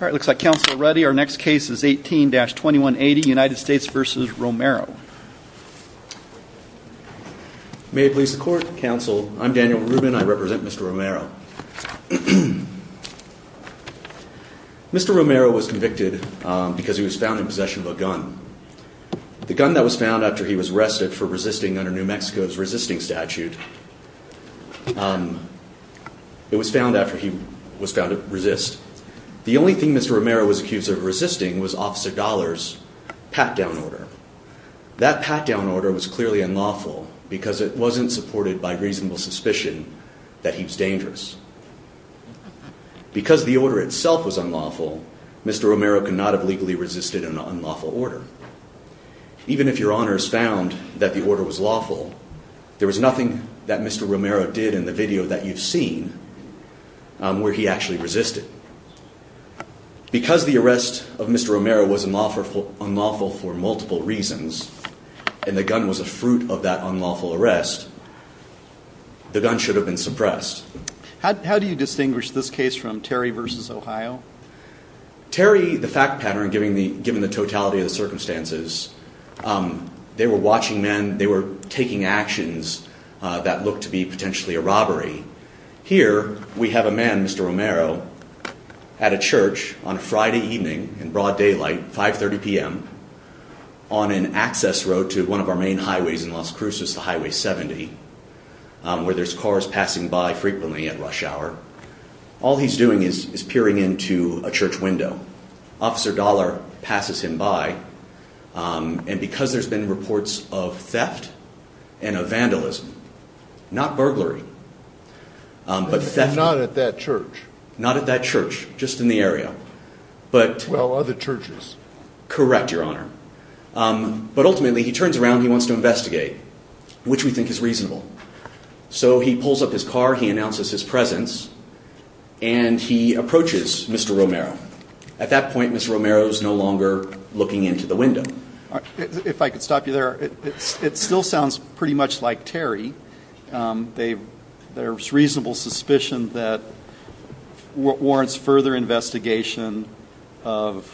May it please the court, counsel. I'm Daniel Rubin. I represent Mr. Romero. Mr. Romero was convicted because he was found in possession of a gun. The gun that was found after he was arrested for resisting under New Mexico's resisting statute. It was found after he was found to resist. The only thing Mr. Romero was accused of resisting was Officer Dollar's pat-down order. That pat-down order was clearly unlawful because it wasn't supported by reasonable suspicion that he was dangerous. Because the order itself was unlawful, Mr. Romero could not have legally resisted an unlawful order. Even if your honors found that the order was lawful, there was nothing that Mr. Romero did in the video that you've seen where he actually resisted. Because the arrest of Mr. Romero was unlawful for multiple reasons, and the gun was a fruit of that unlawful arrest, the gun should have been suppressed. How do you distinguish this case from Terry v. Ohio? Terry, the fact pattern, given the totality of the circumstances, they were watching men, and they were taking actions that looked to be potentially a robbery. Here we have a man, Mr. Romero, at a church on a Friday evening in broad daylight, 5.30 p.m., on an access road to one of our main highways in Las Cruces, the Highway 70, where there's cars passing by frequently at rush hour. All he's doing is peering into a church window. Officer Dollar passes him by. And because there's been reports of theft and of vandalism, not burglary, but theft. Not at that church. Not at that church, just in the area. Well, other churches. Correct, your honor. But ultimately, he turns around and he wants to investigate, which we think is reasonable. So he pulls up his car, he announces his presence, and he approaches Mr. Romero. At that point, Mr. Romero is no longer looking into the window. If I could stop you there, it still sounds pretty much like Terry. There's reasonable suspicion that warrants further investigation of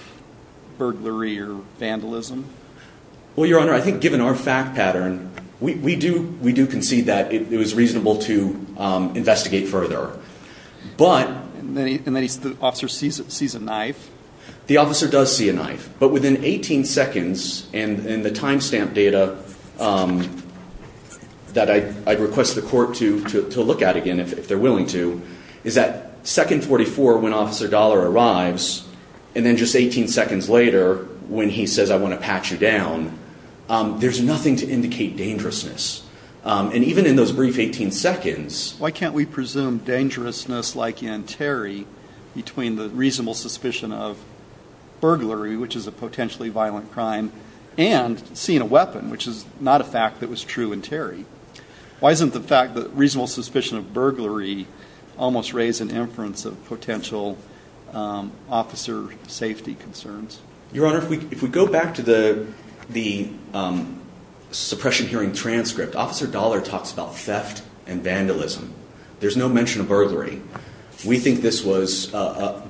burglary or vandalism. Well, your honor, I think given our fact pattern, we do concede that it was reasonable to investigate further. And then the officer sees a knife? The officer does see a knife. But within 18 seconds, and the time stamp data that I'd request the court to look at again, if they're willing to, is that second 44, when Officer Dollar arrives, and then just 18 seconds later, when he says, I want to pat you down, there's nothing to indicate dangerousness. And even in those brief 18 seconds. Why can't we presume dangerousness like in Terry between the reasonable suspicion of burglary, which is a potentially violent crime, and seeing a weapon, which is not a fact that was true in Terry? Why isn't the fact that reasonable suspicion of burglary almost raise an inference of potential officer safety concerns? Your honor, if we go back to the suppression hearing transcript, Officer Dollar talks about theft and vandalism. There's no mention of burglary. We think this was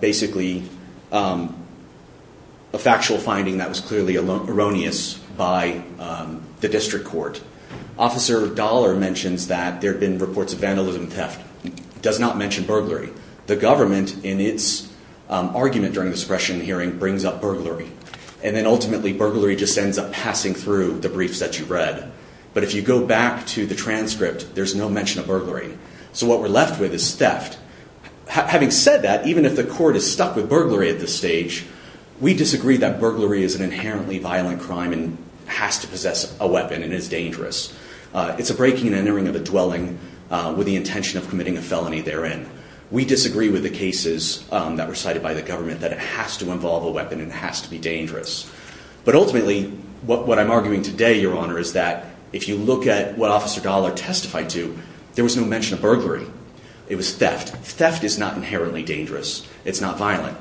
basically a factual finding that was clearly erroneous by the district court. Officer Dollar mentions that there have been reports of vandalism and theft. Does not mention burglary. The government, in its argument during the suppression hearing, brings up burglary. And then ultimately burglary just ends up passing through the briefs that you read. But if you go back to the transcript, there's no mention of burglary. So what we're left with is theft. Having said that, even if the court is stuck with burglary at this stage, we disagree that burglary is an inherently violent crime and has to possess a weapon and is dangerous. It's a breaking and entering of the dwelling with the intention of committing a felony therein. We disagree with the cases that were cited by the government that it has to involve a weapon and has to be dangerous. But ultimately, what I'm arguing today, your honor, is that if you look at what Officer Dollar testified to, there was no mention of burglary. It was theft. Theft is not inherently dangerous. It's not violent.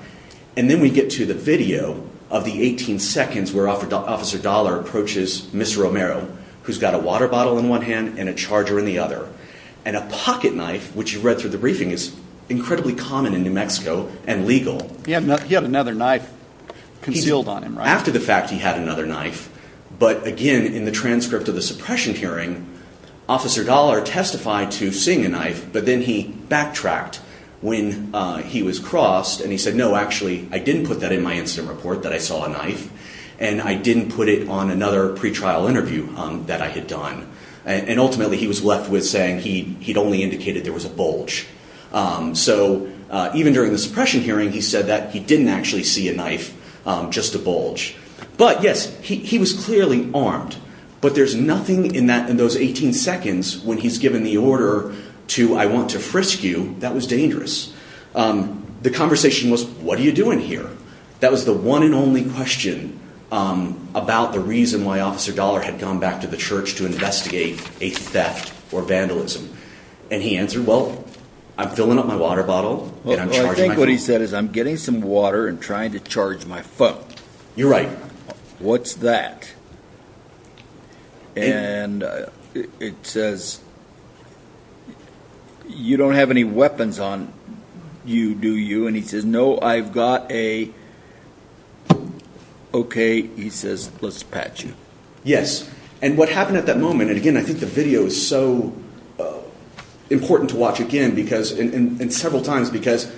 And then we get to the video of the 18 seconds where Officer Dollar approaches Mr. Romero, who's got a water bottle in one hand and a charger in the other. And a pocket knife, which you read through the briefing, is incredibly common in New Mexico and legal. He had another knife concealed on him, right? After the fact, he had another knife. But again, in the transcript of the suppression hearing, Officer Dollar testified to seeing a knife, but then he backtracked when he was crossed and he said, no, actually, I didn't put that in my incident report, that I saw a knife, and I didn't put it on another pretrial interview that I had done. And ultimately, he was left with saying he'd only indicated there was a bulge. So even during the suppression hearing, he said that he didn't actually see a knife, just a bulge. But, yes, he was clearly armed. But there's nothing in those 18 seconds when he's given the order to, I want to frisk you, that was dangerous. The conversation was, what are you doing here? That was the one and only question about the reason why Officer Dollar had gone back to the church to investigate a theft or vandalism. And he answered, well, I'm filling up my water bottle and I'm charging my phone. Well, I think what he said is, I'm getting some water and trying to charge my phone. You're right. What's that? And it says, you don't have any weapons on you, do you? And he says, no, I've got a, okay, he says, let's pat you. Yes. And what happened at that moment, and, again, I think the video is so important to watch again and several times because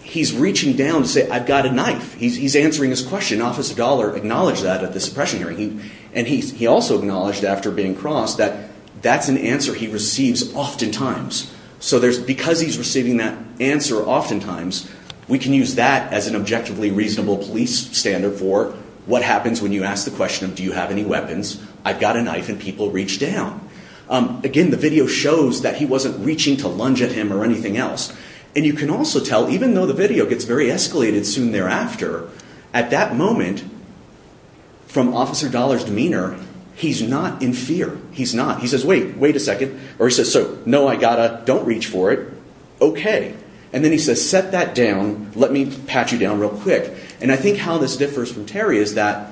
he's reaching down to say, I've got a knife. He's answering his question. Officer Dollar acknowledged that at this suppression hearing. And he also acknowledged after being crossed that that's an answer he receives oftentimes. So because he's receiving that answer oftentimes, we can use that as an objectively reasonable police standard for what happens when you ask the question of, do you have any weapons? I've got a knife and people reach down. Again, the video shows that he wasn't reaching to lunge at him or anything else. And you can also tell, even though the video gets very escalated soon thereafter, at that moment, from Officer Dollar's demeanor, he's not in fear. He's not. He says, wait, wait a second. Or he says, so, no, I've got a, don't reach for it. Okay. And then he says, set that down. Let me pat you down real quick. And I think how this differs from Terry is that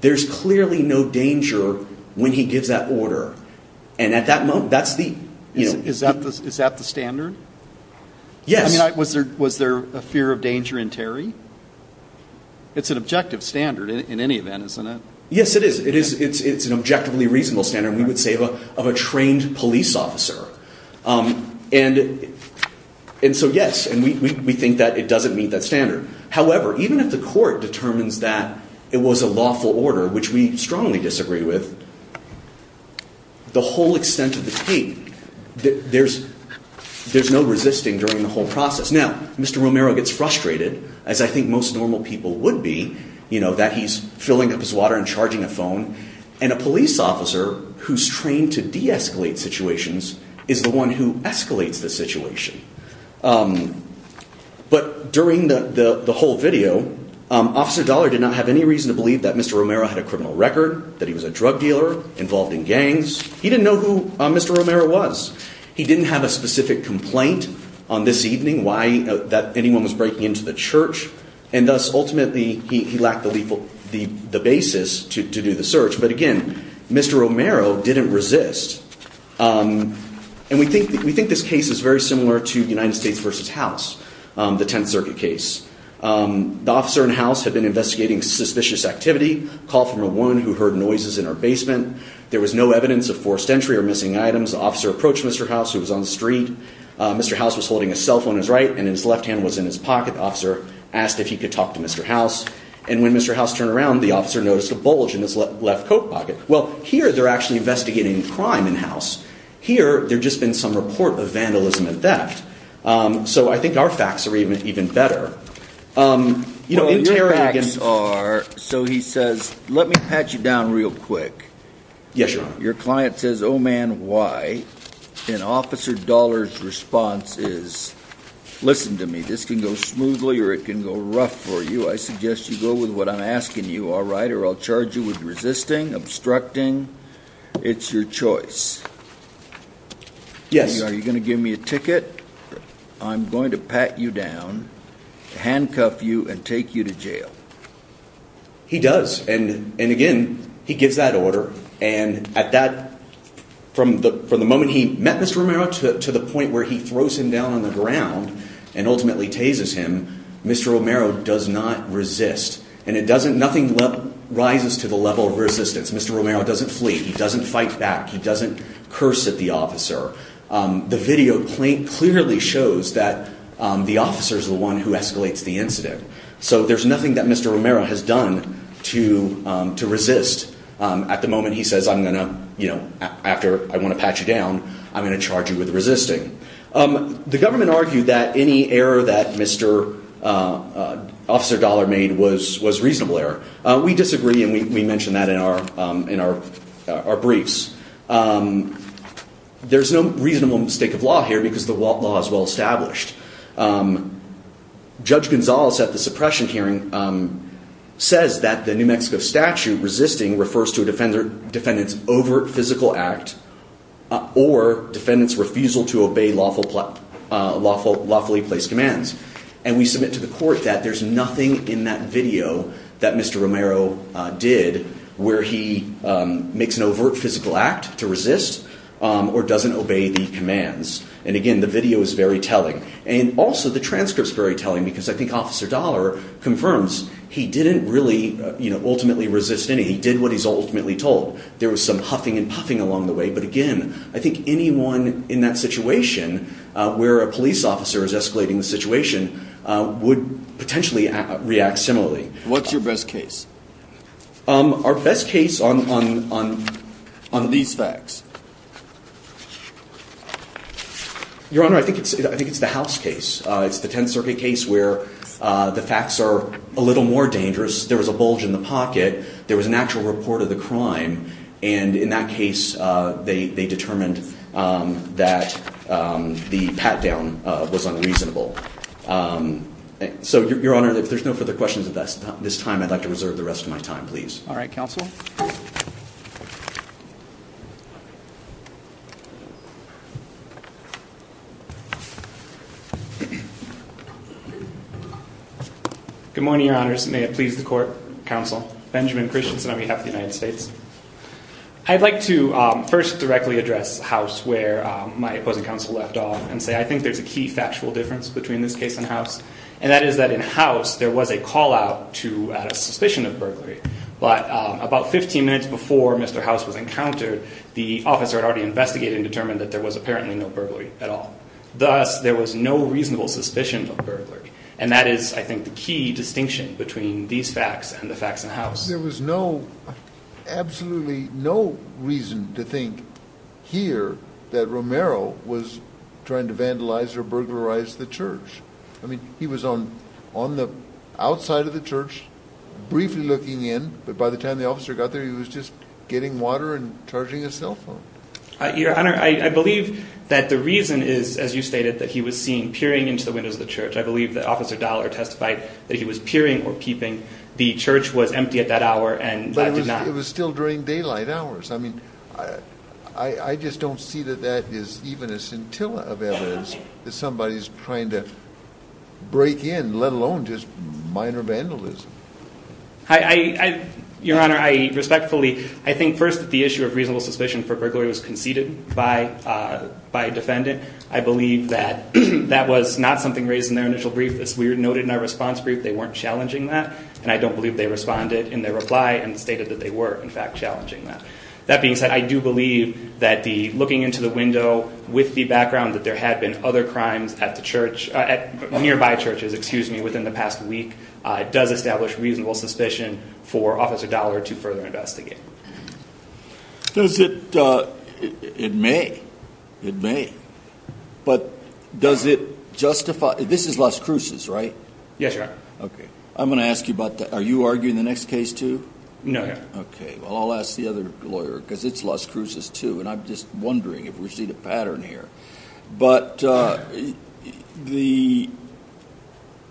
there's clearly no danger when he gives that order. And at that moment, that's the, you know. Yes. I mean, was there a fear of danger in Terry? It's an objective standard in any event, isn't it? Yes, it is. It's an objectively reasonable standard, we would say, of a trained police officer. And so, yes, we think that it doesn't meet that standard. However, even if the court determines that it was a lawful order, which we strongly disagree with, the whole extent of the tape, there's no resisting during the whole process. Now, Mr. Romero gets frustrated, as I think most normal people would be, you know, that he's filling up his water and charging a phone, and a police officer who's trained to de-escalate situations is the one who escalates the situation. But during the whole video, Officer Dollar did not have any reason to believe that Mr. Romero had a criminal record, that he was a drug dealer involved in gangs. He didn't know who Mr. Romero was. He didn't have a specific complaint on this evening that anyone was breaking into the church. And thus, ultimately, he lacked the basis to do the search. But again, Mr. Romero didn't resist. And we think this case is very similar to United States v. House, the Tenth Circuit case. The officer in House had been investigating suspicious activity, a call from a woman who heard noises in her basement. There was no evidence of forced entry or missing items. The officer approached Mr. House, who was on the street. Mr. House was holding a cell phone in his right, and his left hand was in his pocket. The officer asked if he could talk to Mr. House. And when Mr. House turned around, the officer noticed a bulge in his left coat pocket. Well, here, they're actually investigating crime in House. Here, there'd just been some report of vandalism and theft. So I think our facts are even better. Your facts are, so he says, let me pat you down real quick. Yes, Your Honor. Your client says, oh, man, why? And Officer Dollar's response is, listen to me, this can go smoothly or it can go rough for you. I suggest you go with what I'm asking you, all right, or I'll charge you with resisting, obstructing. It's your choice. Yes. Are you going to give me a ticket? I'm going to pat you down, handcuff you, and take you to jail. He does. And, again, he gives that order. And at that, from the moment he met Mr. Romero to the point where he throws him down on the ground and ultimately tases him, Mr. Romero does not resist. And it doesn't, nothing rises to the level of resistance. Mr. Romero doesn't flee. He doesn't fight back. He doesn't curse at the officer. The video clearly shows that the officer is the one who escalates the incident. So there's nothing that Mr. Romero has done to resist. At the moment, he says, I'm going to, you know, after I want to pat you down, I'm going to charge you with resisting. The government argued that any error that Mr. Officer Dollar made was reasonable error. We disagree, and we mention that in our briefs. There's no reasonable mistake of law here because the law is well established. Judge Gonzalez at the suppression hearing says that the New Mexico statute resisting refers to a defendant's overt physical act or defendant's refusal to obey lawfully placed commands. And we submit to the court that there's nothing in that video that Mr. Romero did where he makes an overt physical act to resist or doesn't obey the commands. And again, the video is very telling. And also the transcript's very telling because I think Officer Dollar confirms he didn't really, you know, ultimately resist any. He did what he's ultimately told. There was some huffing and puffing along the way. But again, I think anyone in that situation where a police officer is escalating the situation would potentially react similarly. What's your best case? Our best case on these facts. Your Honor, I think it's the House case. It's the Tenth Circuit case where the facts are a little more dangerous. There was a bulge in the pocket. There was an actual report of the crime. And in that case, they determined that the pat-down was unreasonable. So, Your Honor, if there's no further questions at this time, I'd like to reserve the rest of my time, please. All right, counsel. Good morning, Your Honors. May it please the court, counsel, Benjamin Christensen on behalf of the United States. I'd like to first directly address House where my opposing counsel left off and say I think there's a key factual difference between this case and House. And that is that in House, there was a call-out to a suspicion of burglary. But about 15 minutes before Mr. House was encountered, the officer had already investigated and determined that there was apparently no burglary at all. Thus, there was no reasonable suspicion of burglary. And that is, I think, the key distinction between these facts and the facts in House. There was no, absolutely no reason to think here that Romero was trying to vandalize or burglarize the church. I mean, he was on the outside of the church briefly looking in. But by the time the officer got there, he was just getting water and charging his cell phone. Your Honor, I believe that the reason is, as you stated, that he was seen peering into the windows of the church. I believe that Officer Dollar testified that he was peering or peeping. The church was empty at that hour and did not. But it was still during daylight hours. I mean, I just don't see that that is even a scintilla of evidence that somebody is trying to break in, let alone just minor vandalism. Your Honor, I respectfully, I think first that the issue of reasonable suspicion for burglary was conceded by a defendant. I believe that that was not something raised in their initial brief. As we noted in our response brief, they weren't challenging that. And I don't believe they responded in their reply and stated that they were, in fact, challenging that. That being said, I do believe that the looking into the window with the background that there had been other crimes at the church, at nearby churches, excuse me, within the past week, does establish reasonable suspicion for Officer Dollar to further investigate. Does it? It may. It may. But does it justify? This is Las Cruces, right? Yes, Your Honor. Okay. I'm going to ask you about that. Are you arguing the next case, too? No, Your Honor. Okay. Well, I'll ask the other lawyer because it's Las Cruces, too. And I'm just wondering if we're seeing a pattern here. But the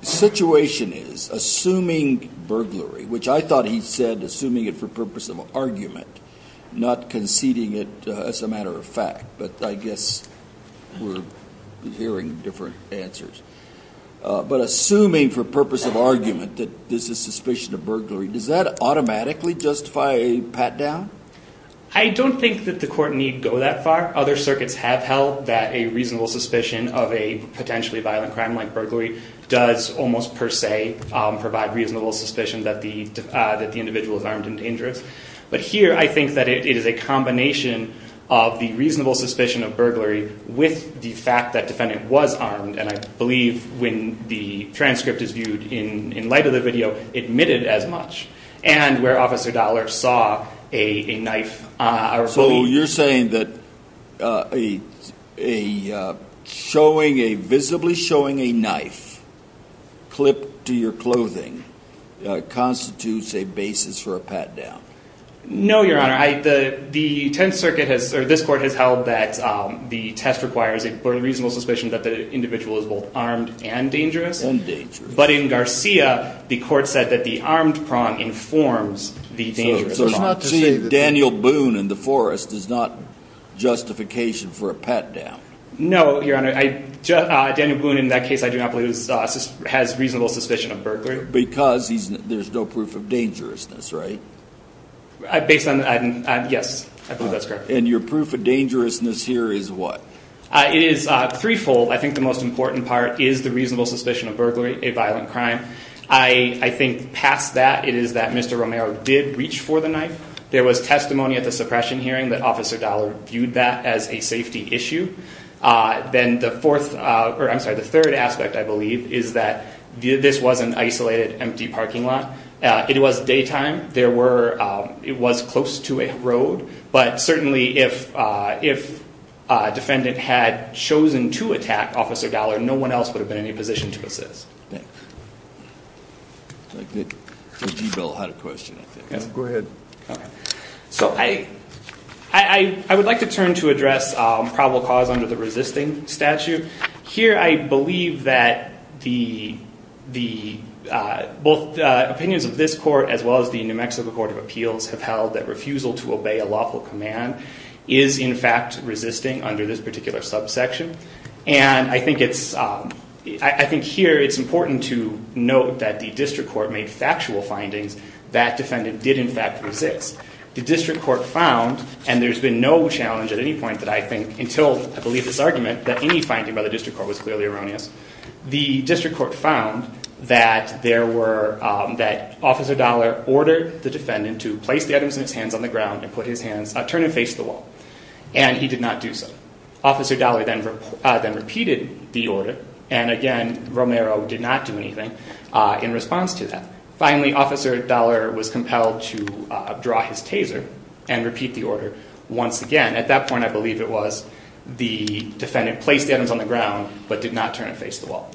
situation is, assuming burglary, which I thought he said, assuming it for purpose of argument, not conceding it as a matter of fact. But I guess we're hearing different answers. But assuming for purpose of argument that this is suspicion of burglary, does that automatically justify a pat-down? I don't think that the court need go that far. Other circuits have held that a reasonable suspicion of a potentially violent crime like burglary does almost per se provide reasonable suspicion that the individual is armed and dangerous. But here, I think that it is a combination of the reasonable suspicion of burglary with the fact that defendant was armed. And I believe when the transcript is viewed in light of the video, admitted as much. And where Officer Dollar saw a knife. So you're saying that a showing, a visibly showing a knife clipped to your clothing constitutes a basis for a pat-down? No, Your Honor. The Tenth Circuit has, or this court has held that the test requires a reasonable suspicion that the individual is both armed and dangerous. And dangerous. But in Garcia, the court said that the armed prong informs the dangerous prong. So it's not to say that Daniel Boone in the forest is not justification for a pat-down? No, Your Honor. Daniel Boone in that case I do not believe has reasonable suspicion of burglary. Because there's no proof of dangerousness, right? Based on, yes. I believe that's correct. And your proof of dangerousness here is what? It is three-fold. I think the most important part is the reasonable suspicion of burglary, a violent crime. I think past that it is that Mr. Romero did reach for the knife. There was testimony at the suppression hearing that Officer Dollar viewed that as a safety issue. Then the fourth, or I'm sorry, the third aspect I believe is that this was an isolated empty parking lot. It was daytime. There were, it was close to a road. But certainly if a defendant had chosen to attack Officer Dollar, no one else would have been in any position to assist. I think that J.G. Bell had a question, I think. Go ahead. So I would like to turn to address probable cause under the resisting statute. Here I believe that the, both opinions of this court as well as the New Mexico Court of Appeals have held that refusal to obey a lawful command is in fact resisting under this particular subsection. And I think it's, I think here it's important to note that the district court made factual findings that defendant did in fact resist. The district court found, and there's been no challenge at any point that I think, until I believe this argument, that any finding by the district court was clearly erroneous. The district court found that there were, that Officer Dollar ordered the defendant to place the items in his hands on the ground and put his hands, turn and face the wall. And he did not do so. Officer Dollar then repeated the order, and again, Romero did not do anything in response to that. Finally, Officer Dollar was compelled to draw his taser and repeat the order once again. At that point, I believe it was the defendant placed the items on the ground but did not turn and face the wall.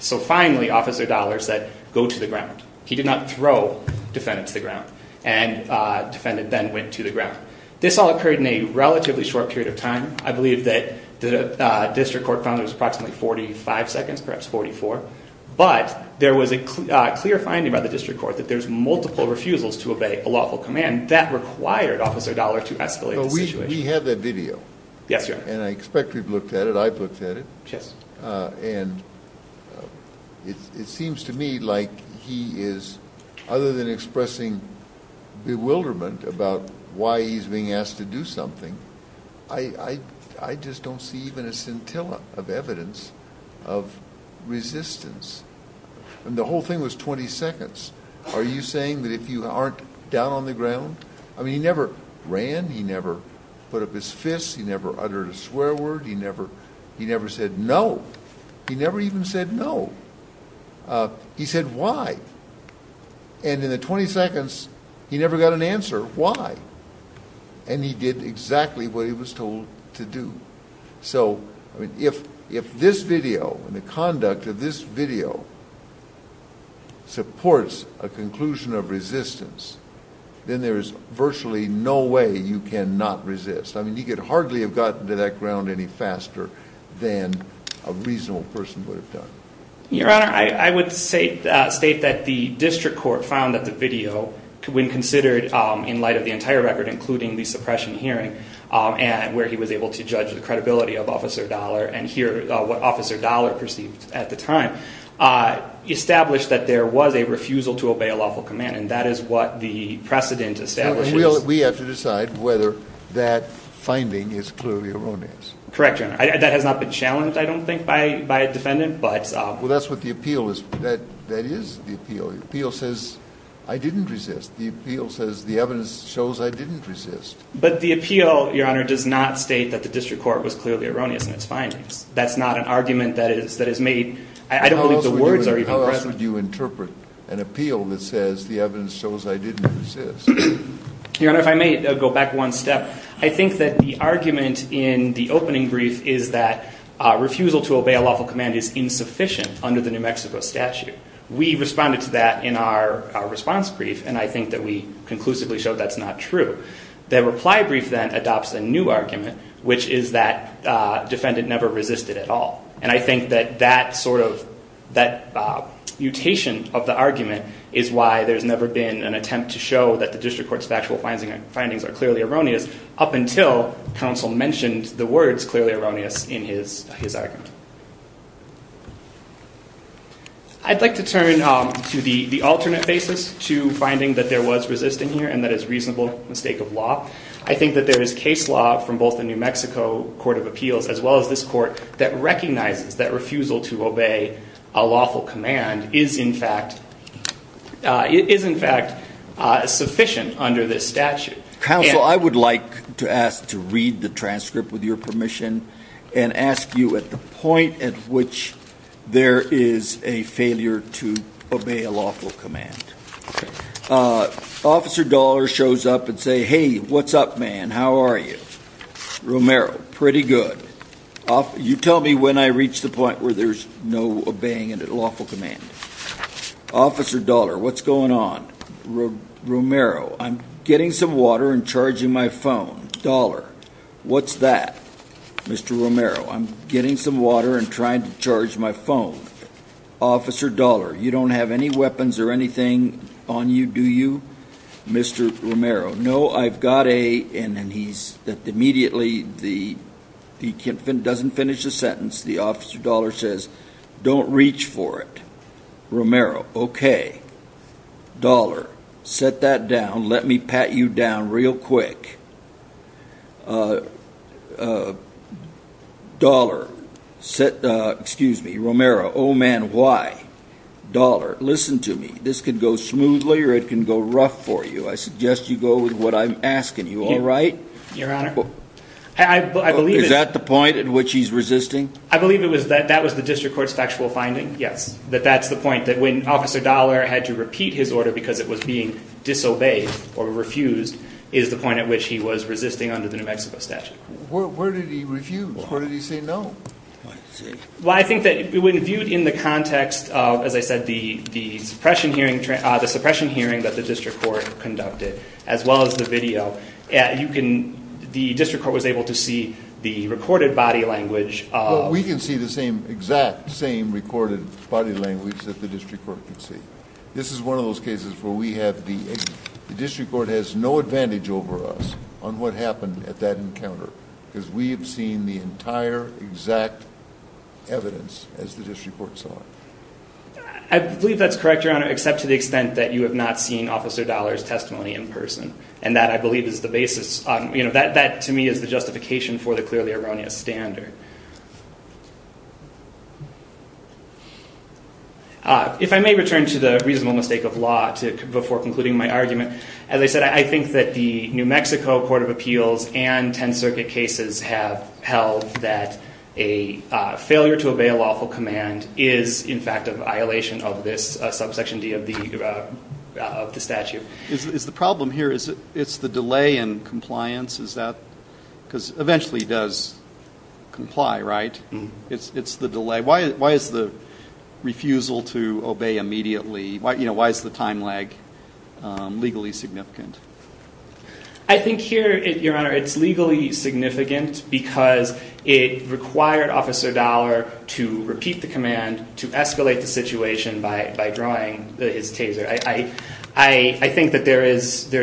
So finally, Officer Dollar said, go to the ground. He did not throw defendant to the ground. And defendant then went to the ground. This all occurred in a relatively short period of time. I believe that the district court found there was approximately 45 seconds, perhaps 44. But there was a clear finding by the district court that there's multiple refusals to obey a lawful command. That required Officer Dollar to escalate the situation. We have that video. Yes, Your Honor. And I expect we've looked at it. I've looked at it. Yes. And it seems to me like he is, other than expressing bewilderment about why he's being asked to do something, I just don't see even a scintilla of evidence of resistance. And the whole thing was 20 seconds. Are you saying that if you aren't down on the ground? I mean, he never ran. He never put up his fists. He never uttered a swear word. He never said no. He never even said no. He said why. And in the 20 seconds, he never got an answer why. And he did exactly what he was told to do. So, I mean, if this video and the conduct of this video supports a conclusion of resistance, then there is virtually no way you cannot resist. I mean, you could hardly have gotten to that ground any faster than a reasonable person would have done. Your Honor, I would state that the district court found that the video, when considered in light of the entire record, including the suppression hearing, where he was able to judge the credibility of Officer Dollar and hear what Officer Dollar perceived at the time, established that there was a refusal to obey a lawful command, and that is what the precedent establishes. So we have to decide whether that finding is clearly erroneous. Correct, Your Honor. That has not been challenged, I don't think, by a defendant. Well, that's what the appeal is. That is the appeal. The appeal says I didn't resist. The appeal says the evidence shows I didn't resist. But the appeal, Your Honor, does not state that the district court was clearly erroneous in its findings. That's not an argument that is made. I don't believe the words are even present. How else would you interpret an appeal that says the evidence shows I didn't resist? Your Honor, if I may go back one step, I think that the argument in the opening brief is that refusal to obey a lawful command is insufficient under the New Mexico statute. We responded to that in our response brief, and I think that we conclusively showed that's not true. The reply brief then adopts a new argument, which is that defendant never resisted at all. And I think that that sort of mutation of the argument is why there's never been an attempt to show that the district court's factual findings are clearly erroneous, up until counsel mentioned the words clearly erroneous in his argument. I'd like to turn to the alternate basis to finding that there was resisting here and that it's a reasonable mistake of law. I think that there is case law from both the New Mexico Court of Appeals as well as this court that recognizes that refusal to obey a lawful command is in fact sufficient under this statute. Counsel, I would like to ask to read the transcript with your permission and ask you at the point at which there is a failure to obey a lawful command. Officer Dollar shows up and says, hey, what's up, man, how are you? Romero, pretty good. You tell me when I reach the point where there's no obeying a lawful command. Officer Dollar, what's going on? Romero, I'm getting some water and charging my phone. Dollar, what's that? Mr. Romero, I'm getting some water and trying to charge my phone. Officer Dollar, you don't have any weapons or anything on you, do you? Mr. Romero, no, I've got a... And then he's... Immediately, he doesn't finish the sentence. The officer Dollar says, don't reach for it. Romero, okay. Dollar, set that down. Let me pat you down real quick. Dollar, excuse me, Romero, oh, man, why? Dollar, listen to me. This could go smoothly or it can go rough for you. I suggest you go with what I'm asking you, all right? Your Honor, I believe... Is that the point at which he's resisting? I believe that was the district court's factual finding, yes, that that's the point, that when Officer Dollar had to repeat his order because it was being disobeyed or refused is the point at which he was resisting under the New Mexico statute. Where did he refuse? Where did he say no? Well, I think that when viewed in the context of, as I said, the suppression hearing that the district court conducted, as well as the video, you can... The district court was able to see the recorded body language of... We can see the exact same recorded body language that the district court can see. This is one of those cases where we have the... The district court has no advantage over us on what happened at that encounter because we have seen the entire exact evidence as the district court saw it. I believe that's correct, Your Honor, except to the extent that you have not seen Officer Dollar's testimony in person, and that, I believe, is the basis. That, to me, is the justification for the clearly erroneous standard. If I may return to the reasonable mistake of law before concluding my argument, as I said, I think that the New Mexico Court of Appeals and Tenth Circuit cases have held that a failure to obey a lawful command is, in fact, a violation of this subsection D of the statute. Is the problem here is it's the delay in compliance? Is that because eventually it does comply, right? It's the delay. Why is the refusal to obey immediately? Why is the time lag legally significant? I think here, Your Honor, it's legally significant because it required Officer Dollar to repeat the command to escalate the situation by drawing his taser. I think that there is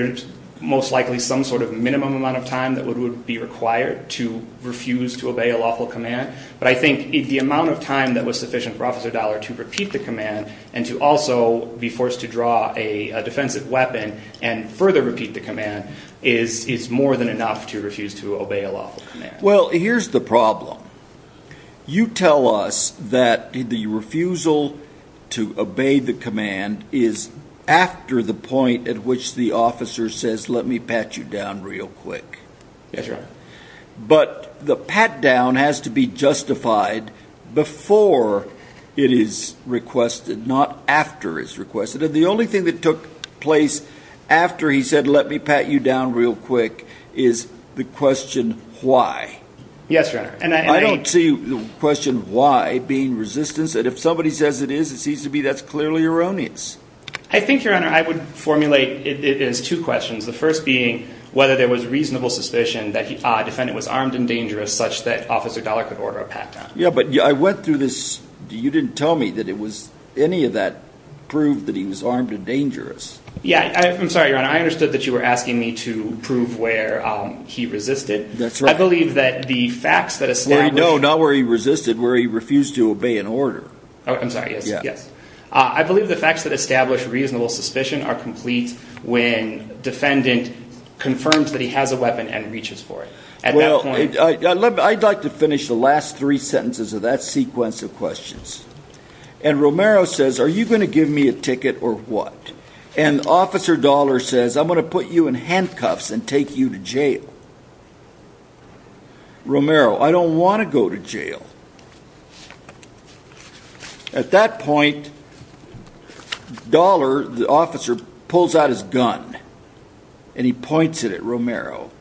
most likely some sort of minimum amount of time that would be required to refuse to obey a lawful command, but I think the amount of time that was sufficient for Officer Dollar to repeat the command and to also be forced to draw a defensive weapon and further repeat the command is more than enough to refuse to obey a lawful command. Well, here's the problem. You tell us that the refusal to obey the command is after the point at which the officer says, let me pat you down real quick. Yes, Your Honor. But the pat down has to be justified before it is requested, not after it is requested. And the only thing that took place after he said, let me pat you down real quick is the question why. Yes, Your Honor. I don't see the question why being resistance. And if somebody says it is, it seems to me that's clearly erroneous. I think, Your Honor, I would formulate it as two questions. The first being whether there was reasonable suspicion that a defendant was armed and dangerous such that Officer Dollar could order a pat down. Yeah, but I went through this. You didn't tell me that any of that proved that he was armed and dangerous. Yeah, I'm sorry, Your Honor. I understood that you were asking me to prove where he resisted. I believe that the facts that established No, not where he resisted, where he refused to obey an order. Oh, I'm sorry. Yes. I believe the facts that establish reasonable suspicion are complete when defendant confirms that he has a weapon and reaches for it. Well, I'd like to finish the last three sentences of that sequence of questions. And Romero says, are you going to give me a ticket or what? And Officer Dollar says, I'm going to put you in handcuffs and take you to jail. Romero, I don't want to go to jail. At that point, Dollar, the officer, pulls out his gun and he points it at Romero.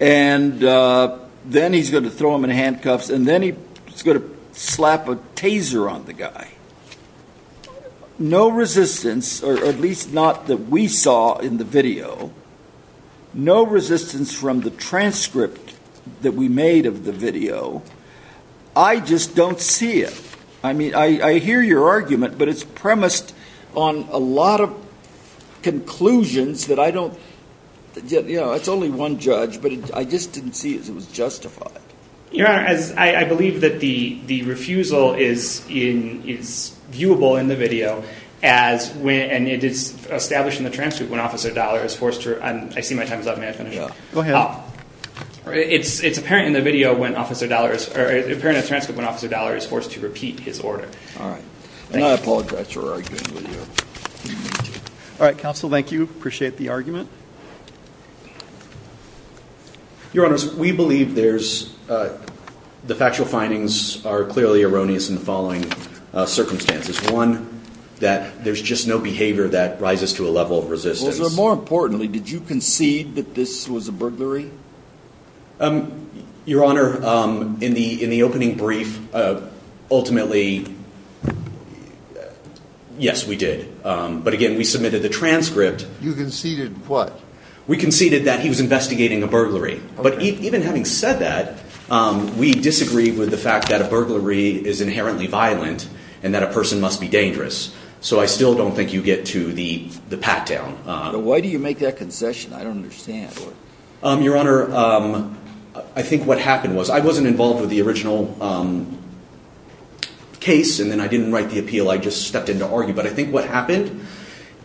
And then he's going to throw him in handcuffs and then he's going to slap a taser on the guy. No resistance, or at least not that we saw in the video, no resistance from the transcript that we made of the video. I just don't see it. I mean, I hear your argument, but it's premised on a lot of conclusions that I don't, you know, it's only one judge, but I just didn't see it as it was justified. Your Honor, I believe that the refusal is viewable in the video and it is established in the transcript when Officer Dollar is forced to, I see my time is up, may I finish? Go ahead. It's apparent in the transcript when Officer Dollar is forced to repeat his order. All right. And I apologize for arguing with you. All right, counsel, thank you. Appreciate the argument. Your Honors, we believe the factual findings are clearly erroneous in the following circumstances. One, that there's just no behavior that rises to a level of resistance. Well, more importantly, did you concede that this was a burglary? Your Honor, in the opening brief, ultimately, yes, we did. But again, we submitted the transcript. You conceded what? We conceded that he was investigating a burglary. But even having said that, we disagree with the fact that a burglary is inherently violent and that a person must be dangerous. So I still don't think you get to the pat-down. Why do you make that concession? I don't understand. Your Honor, I think what happened was I wasn't involved with the original case and then I didn't write the appeal, I just stepped in to argue. But I think what happened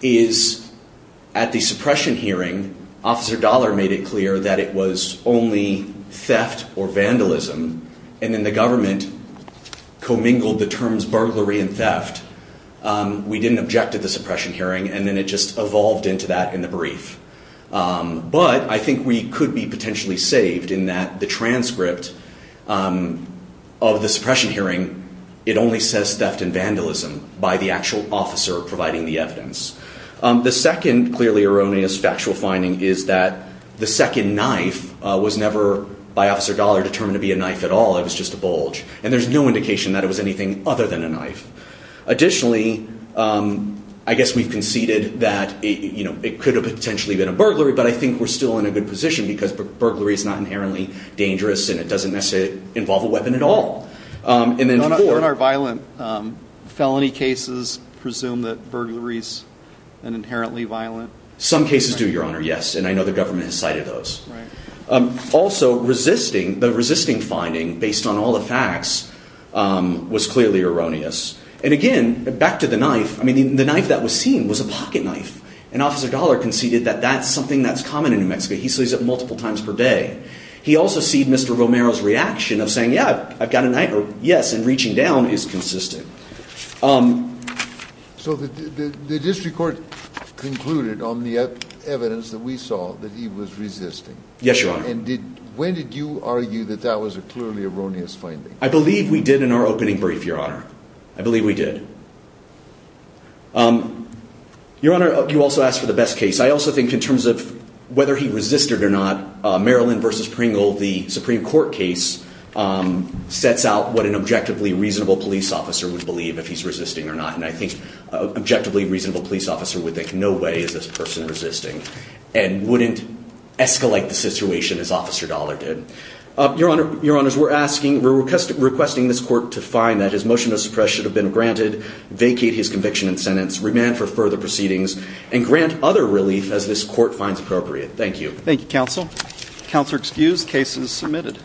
is at the suppression hearing, Officer Dollar made it clear that it was only theft or vandalism, and then the government commingled the terms burglary and theft. We didn't object to the suppression hearing, and then it just evolved into that in the brief. But I think we could be potentially saved in that the transcript of the suppression hearing, it only says theft and vandalism by the actual officer providing the evidence. The second clearly erroneous factual finding is that the second knife was never, by Officer Dollar, determined to be a knife at all. It was just a bulge. And there's no indication that it was anything other than a knife. Additionally, I guess we've conceded that it could have potentially been a burglary, but I think we're still in a good position because burglary is not inherently dangerous and it doesn't necessarily involve a weapon at all. They're not violent. Felony cases presume that burglaries are inherently violent. Some cases do, Your Honor, yes, and I know the government has cited those. Right. Also, the resisting finding, based on all the facts, was clearly erroneous. And again, back to the knife, the knife that was seen was a pocket knife, and Officer Dollar conceded that that's something that's common in New Mexico. He sees it multiple times per day. He also sees Mr. Romero's reaction of saying, yeah, I've got a knife, or yes, and reaching down is consistent. So the district court concluded on the evidence that we saw that he was resisting. Yes, Your Honor. And when did you argue that that was a clearly erroneous finding? I believe we did in our opening brief, Your Honor. I believe we did. Your Honor, you also asked for the best case. I also think in terms of whether he resisted or not, Maryland v. Pringle, the Supreme Court case, sets out what an objectively reasonable police officer would believe if he's resisting or not. And I think an objectively reasonable police officer would think no way is this person resisting and wouldn't escalate the situation as Officer Dollar did. Your Honors, we're asking, we're requesting this court to find that his motion of suppression should have been granted, vacate his conviction and sentence, remand for further proceedings, and grant other relief as this court finds appropriate. Thank you. Thank you, counsel. Counselor excused. Case is submitted.